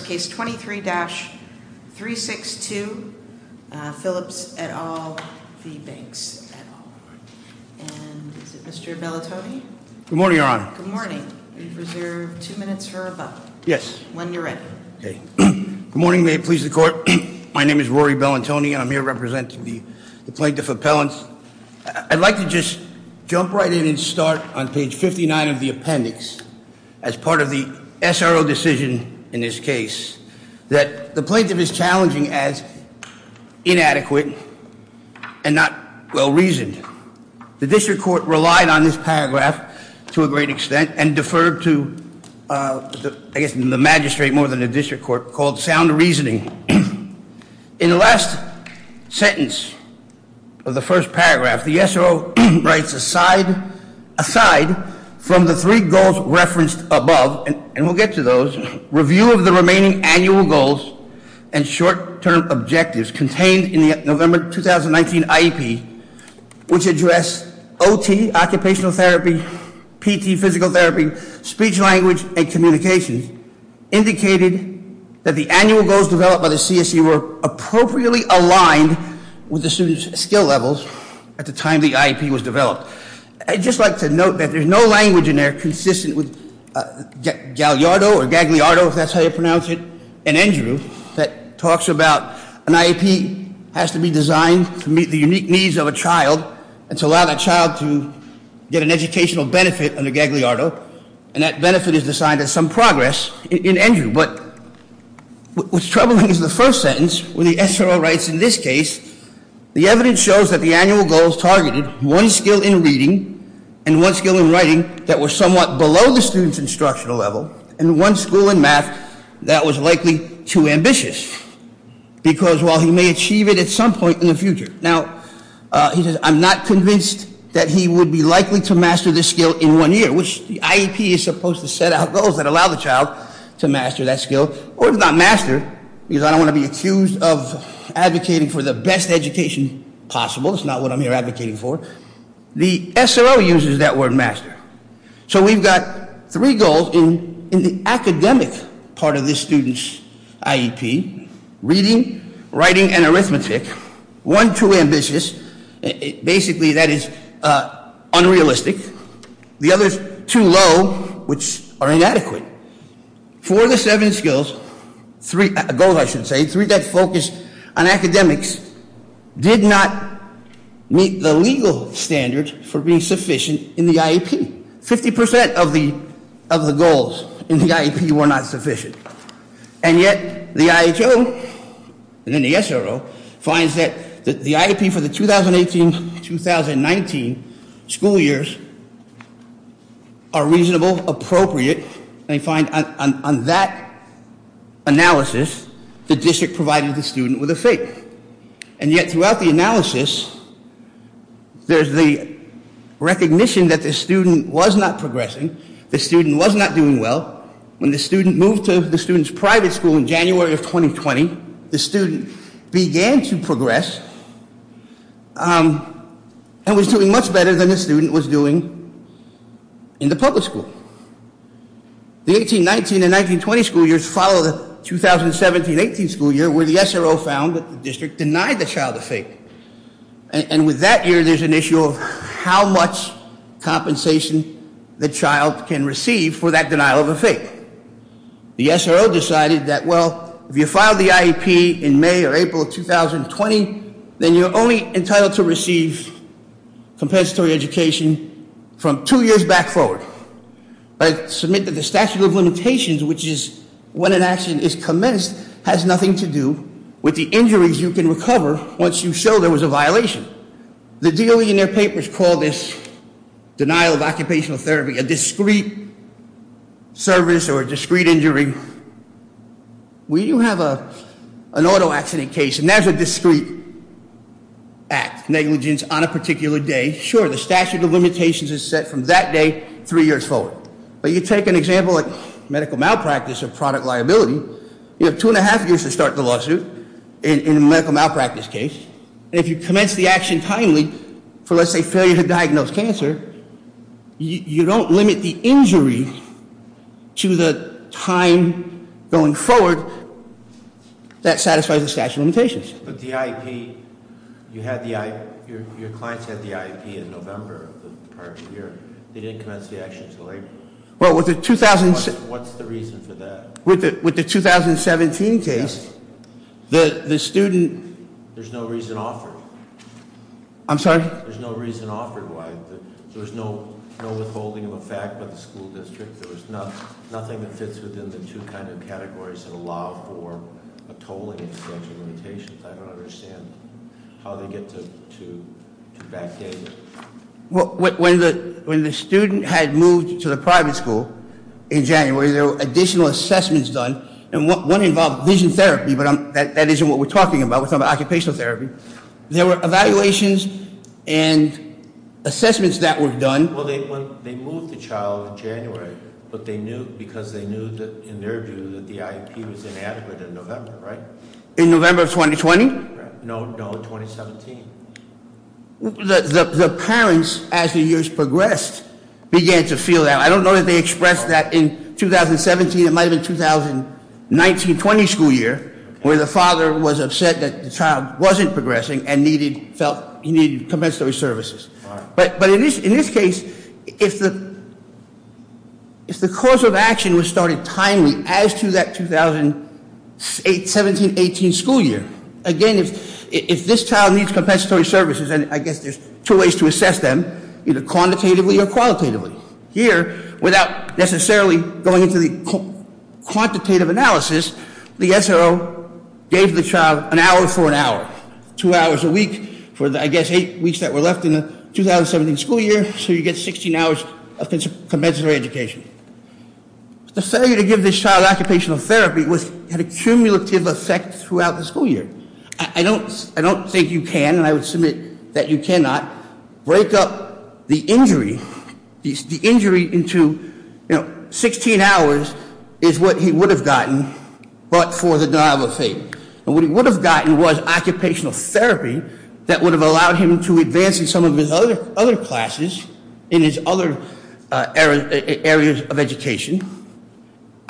case 23-362 Phillips et al v Banks et al. And is it Mr. Bellantoni? Good morning, Your Honor. Good morning. You've reserved two minutes for a vote. Yes. When you're ready. Okay. Good morning. May it please the court. My name is Rory Bellantoni and I'm here representing the plaintiff appellants. I'd like to just jump right in and start on page 59 of the appendix as part of the SRO decision in this case. That the plaintiff is challenging as inadequate and not well-reasoned. The district court relied on this paragraph to a great extent and deferred to I guess the magistrate more than the district court called sound reasoning. In the last sentence of the first paragraph, the SRO writes aside from the three goals referenced above, and we'll get to those, review of the remaining annual goals and short-term objectives contained in the November 2019 IEP, which address OT, occupational therapy, PT, physical therapy, speech, language, and communication. Indicated that the annual goals developed by the CSE were appropriately aligned with the student's skill levels at the time the IEP was developed. I'd just like to note that there's no language in there consistent with Gallardo or Gagliardo, if that's how you pronounce it, and Andrew that talks about an IEP has to be designed to meet the unique needs of a child and to allow that child to get an educational benefit under Gagliardo. And that benefit is assigned as some progress in Andrew. But what's troubling is the first sentence when the SRO writes in this case, the evidence shows that the annual goals targeted one skill in reading and one skill in writing that was somewhat below the student's instructional level and one school in math that was likely too ambitious because while he may achieve it at some point in the future. Now, he says, I'm not convinced that he would be likely to master this skill in one year, which the IEP is supposed to set out goals that allow the child to master that skill. Or if not master, because I don't want to be accused of advocating for the best education possible. It's not what I'm here advocating for. The SRO uses that word master. So we've got three goals in the academic part of this student's IEP. Reading, writing, and arithmetic. One too ambitious, basically that is unrealistic. The other's too low, which are inadequate. For the seven skills, goals I should say, three that focus on academics did not meet the legal standards for being sufficient in the IEP. 50% of the goals in the IEP were not sufficient. And yet, the IHO, and then the SRO, finds that the IEP for the 2018-2019 school years are reasonable, appropriate, and they find on that analysis, the district provided the student with a fake, and yet throughout the analysis, there's the recognition that the student was not progressing, the student was not doing well. When the student moved to the student's private school in January of 2020, the student began to progress, and was doing much better than the student was doing in the public school. The 18-19 and 19-20 school years follow the 2017-18 school year, where the SRO found that the district denied the child a fake. And with that year, there's an issue of how much compensation the child can receive for that denial of a fake. The SRO decided that, well, if you file the IEP in May or April of 2020, then you're only entitled to receive compensatory education from two years back forward. I submit that the statute of limitations, which is when an action is commenced, has nothing to do with the injuries you can recover once you show there was a violation. The DOE in their papers called this denial of occupational therapy a discreet service or a discreet injury. We do have an auto accident case, and that's a discreet act, negligence on a particular day. Sure, the statute of limitations is set from that day three years forward. But you take an example like medical malpractice or product liability, you have two and a half years to start the lawsuit in a medical malpractice case. And if you commence the action timely, for let's say failure to diagnose cancer, you don't limit the injury to the time going forward that satisfies the statute of limitations. But the IEP, you had the, your clients had the IEP in November of the prior year. They didn't commence the action too late. Well, with the- What's the reason for that? With the 2017 case, the student- There's no reason offered. I'm sorry? There's no reason offered why there's no withholding of a fact by the school district. There was nothing that fits within the two kind of categories that allow for a tolling of the statute of limitations. I don't understand how they get to backdate it. When the student had moved to the private school in January, there were additional assessments done. And one involved vision therapy, but that isn't what we're talking about. We're talking about occupational therapy. There were evaluations and assessments that were done. Well, they moved the child in January, but they knew, because they knew that in their view, that the IEP was inadequate in November, right? In November of 2020? No, no, 2017. The parents, as the years progressed, began to feel that. I don't know if they expressed that in 2017, it might have been 2019-20 school year, where the father was upset that the child wasn't progressing and needed compensatory services. But in this case, if the course of action was started timely as to that 2017-18 school year, again, if this child needs compensatory services, and I guess there's two ways to assess them, either quantitatively or qualitatively. Here, without necessarily going into the quantitative analysis, the SRO gave the child an hour for an hour, two hours a week for the, I guess, eight weeks that were left in the 2017 school year, so you get 16 hours of compensatory education. The failure to give this child occupational therapy had a cumulative effect throughout the school year. I don't think you can, and I would submit that you cannot, break up the injury. The injury into 16 hours is what he would have gotten, but for the dialogue of faith. And what he would have gotten was occupational therapy that would have allowed him to advance in some of his other classes, in his other areas of education.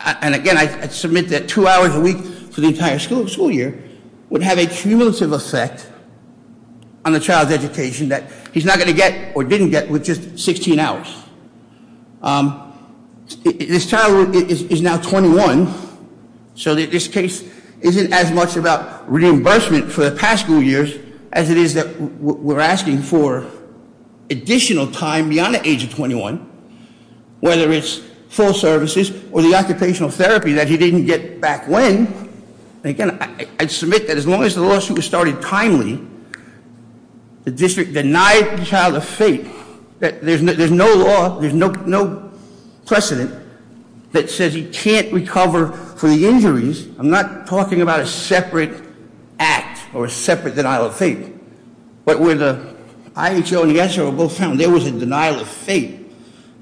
And again, I submit that two hours a week for the entire school year would have a cumulative effect on the child's education that he's not going to get, or didn't get, with just 16 hours. This child is now 21, so that this case isn't as much about reimbursement for the past school years as it is that we're asking for additional time beyond the age of 21. Whether it's full services or the occupational therapy that he didn't get back when. And again, I'd submit that as long as the lawsuit was started timely, the district denied the child a fate. There's no law, there's no precedent that says he can't recover for the injuries. I'm not talking about a separate act, or a separate denial of fate. But where the IHO and the IHO were both found, there was a denial of fate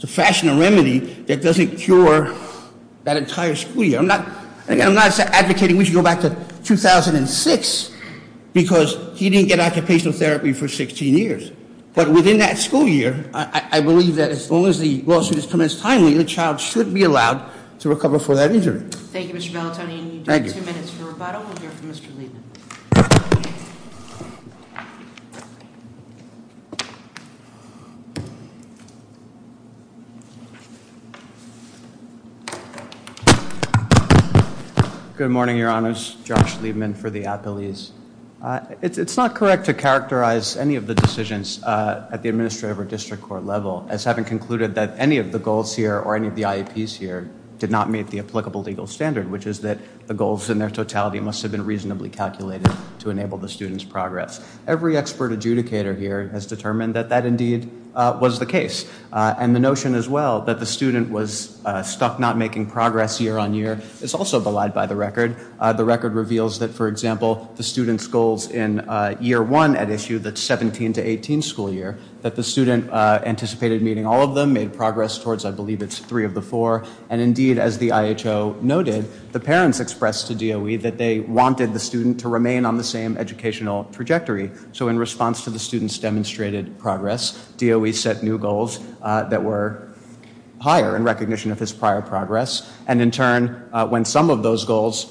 to fashion a remedy that doesn't cure that entire school year. I'm not advocating we should go back to 2006, because he didn't get occupational therapy for 16 years. But within that school year, I believe that as long as the lawsuit is commenced timely, the child should be allowed to recover for that injury. Thank you, Mr. Bellatoni, and you do have two minutes for rebuttal. We'll hear from Mr. Liebman. Good morning, your honors. Josh Liebman for the Appellees. It's not correct to characterize any of the decisions at the administrative or district court level, as having concluded that any of the goals here or any of the IEPs here did not meet the applicable legal standard. Which is that the goals in their totality must have been reasonably calculated to enable the student's progress. Every expert adjudicator here has determined that that indeed was the case. And the notion as well that the student was stuck not making progress year on year is also belied by the record. The record reveals that, for example, the student's goals in year one at issue that's 17 to 18 school year, that the student anticipated meeting all of them, made progress towards I believe it's three of the four. And indeed, as the IHO noted, the parents expressed to DOE that they wanted the student to remain on the same educational trajectory. So in response to the student's demonstrated progress, DOE set new goals that were higher in recognition of his prior progress. And in turn, when some of those goals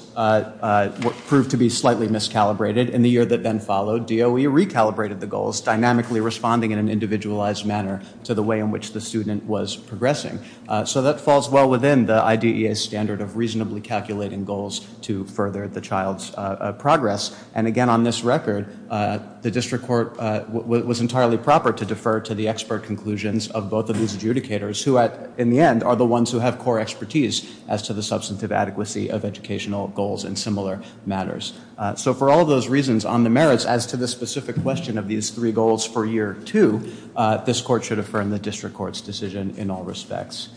proved to be slightly miscalibrated, in the year that then followed, DOE recalibrated the goals, dynamically responding in an individualized manner to the way in which the student was progressing. So that falls well within the IDEA standard of reasonably calculating goals to further the child's progress. And again on this record, the district court was entirely proper to defer to the expert conclusions of both of these adjudicators. Who in the end are the ones who have core expertise as to the substantive adequacy of educational goals in similar matters. So for all those reasons on the merits as to the specific question of these three goals for year two, this court should affirm the district court's decision in all respects.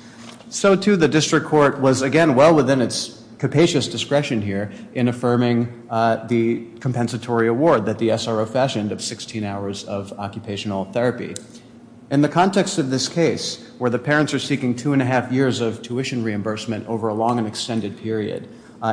So too the district court was again well within its capacious discretion here in affirming the compensatory award that the SRO fashioned of 16 hours of occupational therapy. In the context of this case, where the parents are seeking two and a half years of tuition reimbursement over a long and extended period.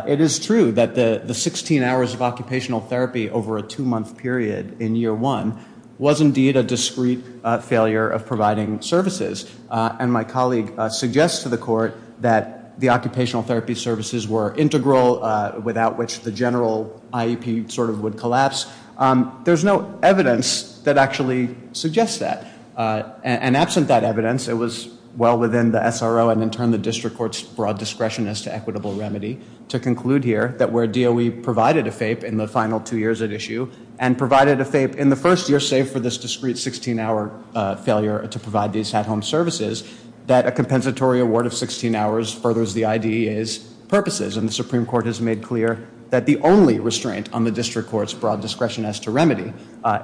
It is true that the 16 hours of occupational therapy over a two month period in year one was indeed a discreet failure of providing services. And my colleague suggests to the court that the occupational therapy services were integral, without which the general IEP sort of would collapse. There's no evidence that actually suggests that. And absent that evidence, it was well within the SRO and in turn the district court's broad discretion as to equitable remedy. To conclude here, that where DOE provided a FAPE in the final two years at issue, and provided a FAPE in the first year, save for this discreet 16 hour failure to provide these at home services, that a compensatory award of 16 hours furthers the IDEA's purposes. And the Supreme Court has made clear that the only restraint on the district court's broad discretion as to remedy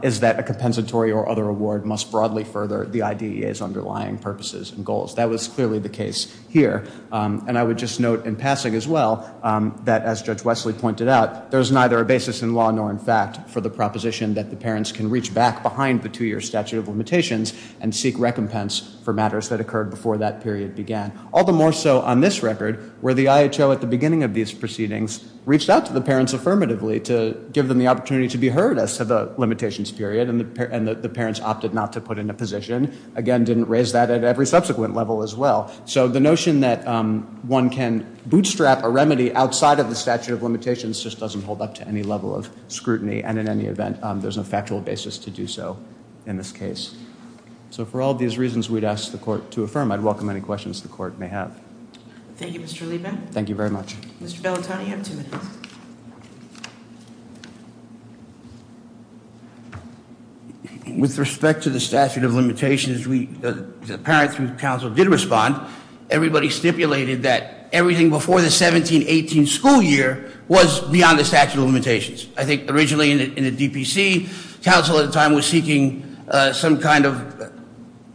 is that a compensatory or other award must broadly further the IDEA's underlying purposes and goals. That was clearly the case here. And I would just note in passing as well, that as Judge Wesley pointed out, there's neither a basis in law nor in fact for the proposition that the parents can reach back behind the two year statute of limitations and seek recompense for matters that occurred before that period began. All the more so on this record, where the IHO at the beginning of these proceedings reached out to the parents affirmatively to give them the opportunity to be heard as to the limitations period, and the parents opted not to put in a position. Again, didn't raise that at every subsequent level as well. So the notion that one can bootstrap a remedy outside of the statute of limitations just doesn't hold up to any level of scrutiny. And in any event, there's no factual basis to do so in this case. So for all these reasons we'd ask the court to affirm, I'd welcome any questions the court may have. Thank you, Mr. Liebman. Thank you very much. Mr. Bellatoni, you have two minutes. With respect to the statute of limitations, the parents who counsel did respond, everybody stipulated that everything before the 17-18 school year was beyond the statute of limitations. I think originally in the DPC, counsel at the time was seeking some kind of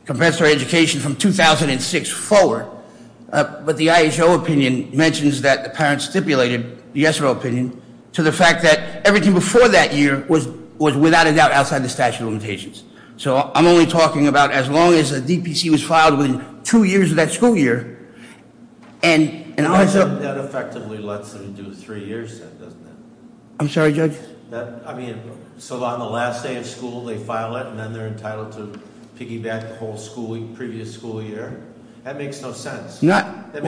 compensatory education from 2006 forward, but the IHO opinion mentions that the parents stipulated, the ESRO opinion, to the fact that everything before that year was without a doubt outside the statute of limitations. So I'm only talking about as long as the DPC was filed within two years of that school year. And I- That effectively lets them do three years, doesn't it? I'm sorry, Judge? I mean, so on the last day of school they file it, and then they're entitled to piggyback the whole previous school year? That makes no sense. That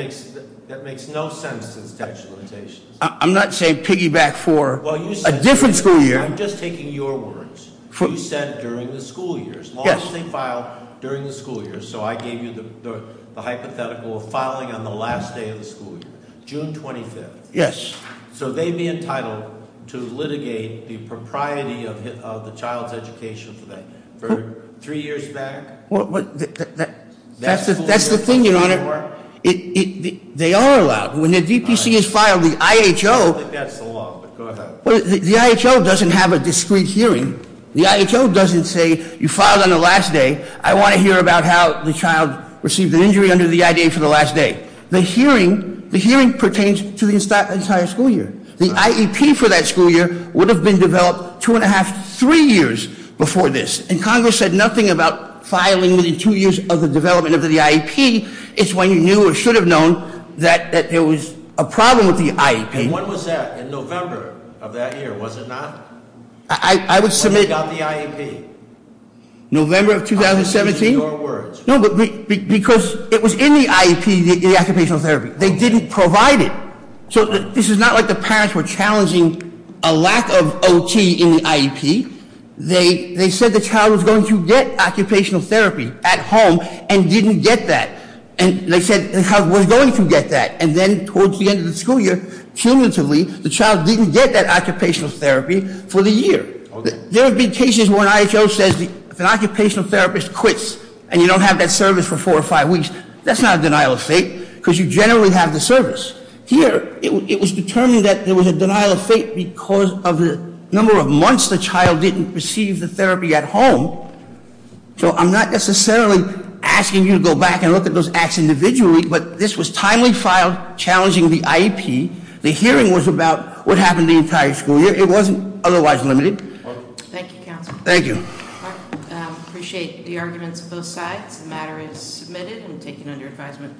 makes no sense, this statute of limitations. I'm not saying piggyback for a different school year. I'm just taking your words. You said during the school years. Yes. As long as they file during the school years. So I gave you the hypothetical of filing on the last day of the school year, June 25th. Yes. So they'd be entitled to litigate the propriety of the child's education for three years back? Well, that's the thing, your honor. They are allowed. When the DPC is filed, the IHO- I don't think that's the law, but go ahead. The IHO doesn't have a discrete hearing. The IHO doesn't say, you filed on the last day, I want to hear about how the child received an injury under the IDA for the last day. The hearing pertains to the entire school year. The IEP for that school year would have been developed two and a half, three years before this. And Congress said nothing about filing within two years of the development of the IEP. It's when you knew or should have known that there was a problem with the IEP. And when was that, in November of that year, was it not? I would submit- When you got the IEP. November of 2017. I'm using your words. No, but because it was in the IEP, the occupational therapy, they didn't provide it. So this is not like the parents were challenging a lack of OT in the IEP. They said the child was going to get occupational therapy at home and didn't get that. And they said the child was going to get that. And then towards the end of the school year, cumulatively, the child didn't get that occupational therapy for the year. There have been cases where an IHO says if an occupational therapist quits and you don't have that service for four or five weeks, that's not a denial of fate. because you generally have the service. Here, it was determined that there was a denial of fate because of the number of months the child didn't receive the therapy at home. So I'm not necessarily asking you to go back and look at those acts individually, but this was timely file challenging the IEP. The hearing was about what happened the entire school year. It wasn't otherwise limited. Thank you, Counselor. Thank you. I appreciate the arguments of both sides. The matter is submitted and taken under advisement.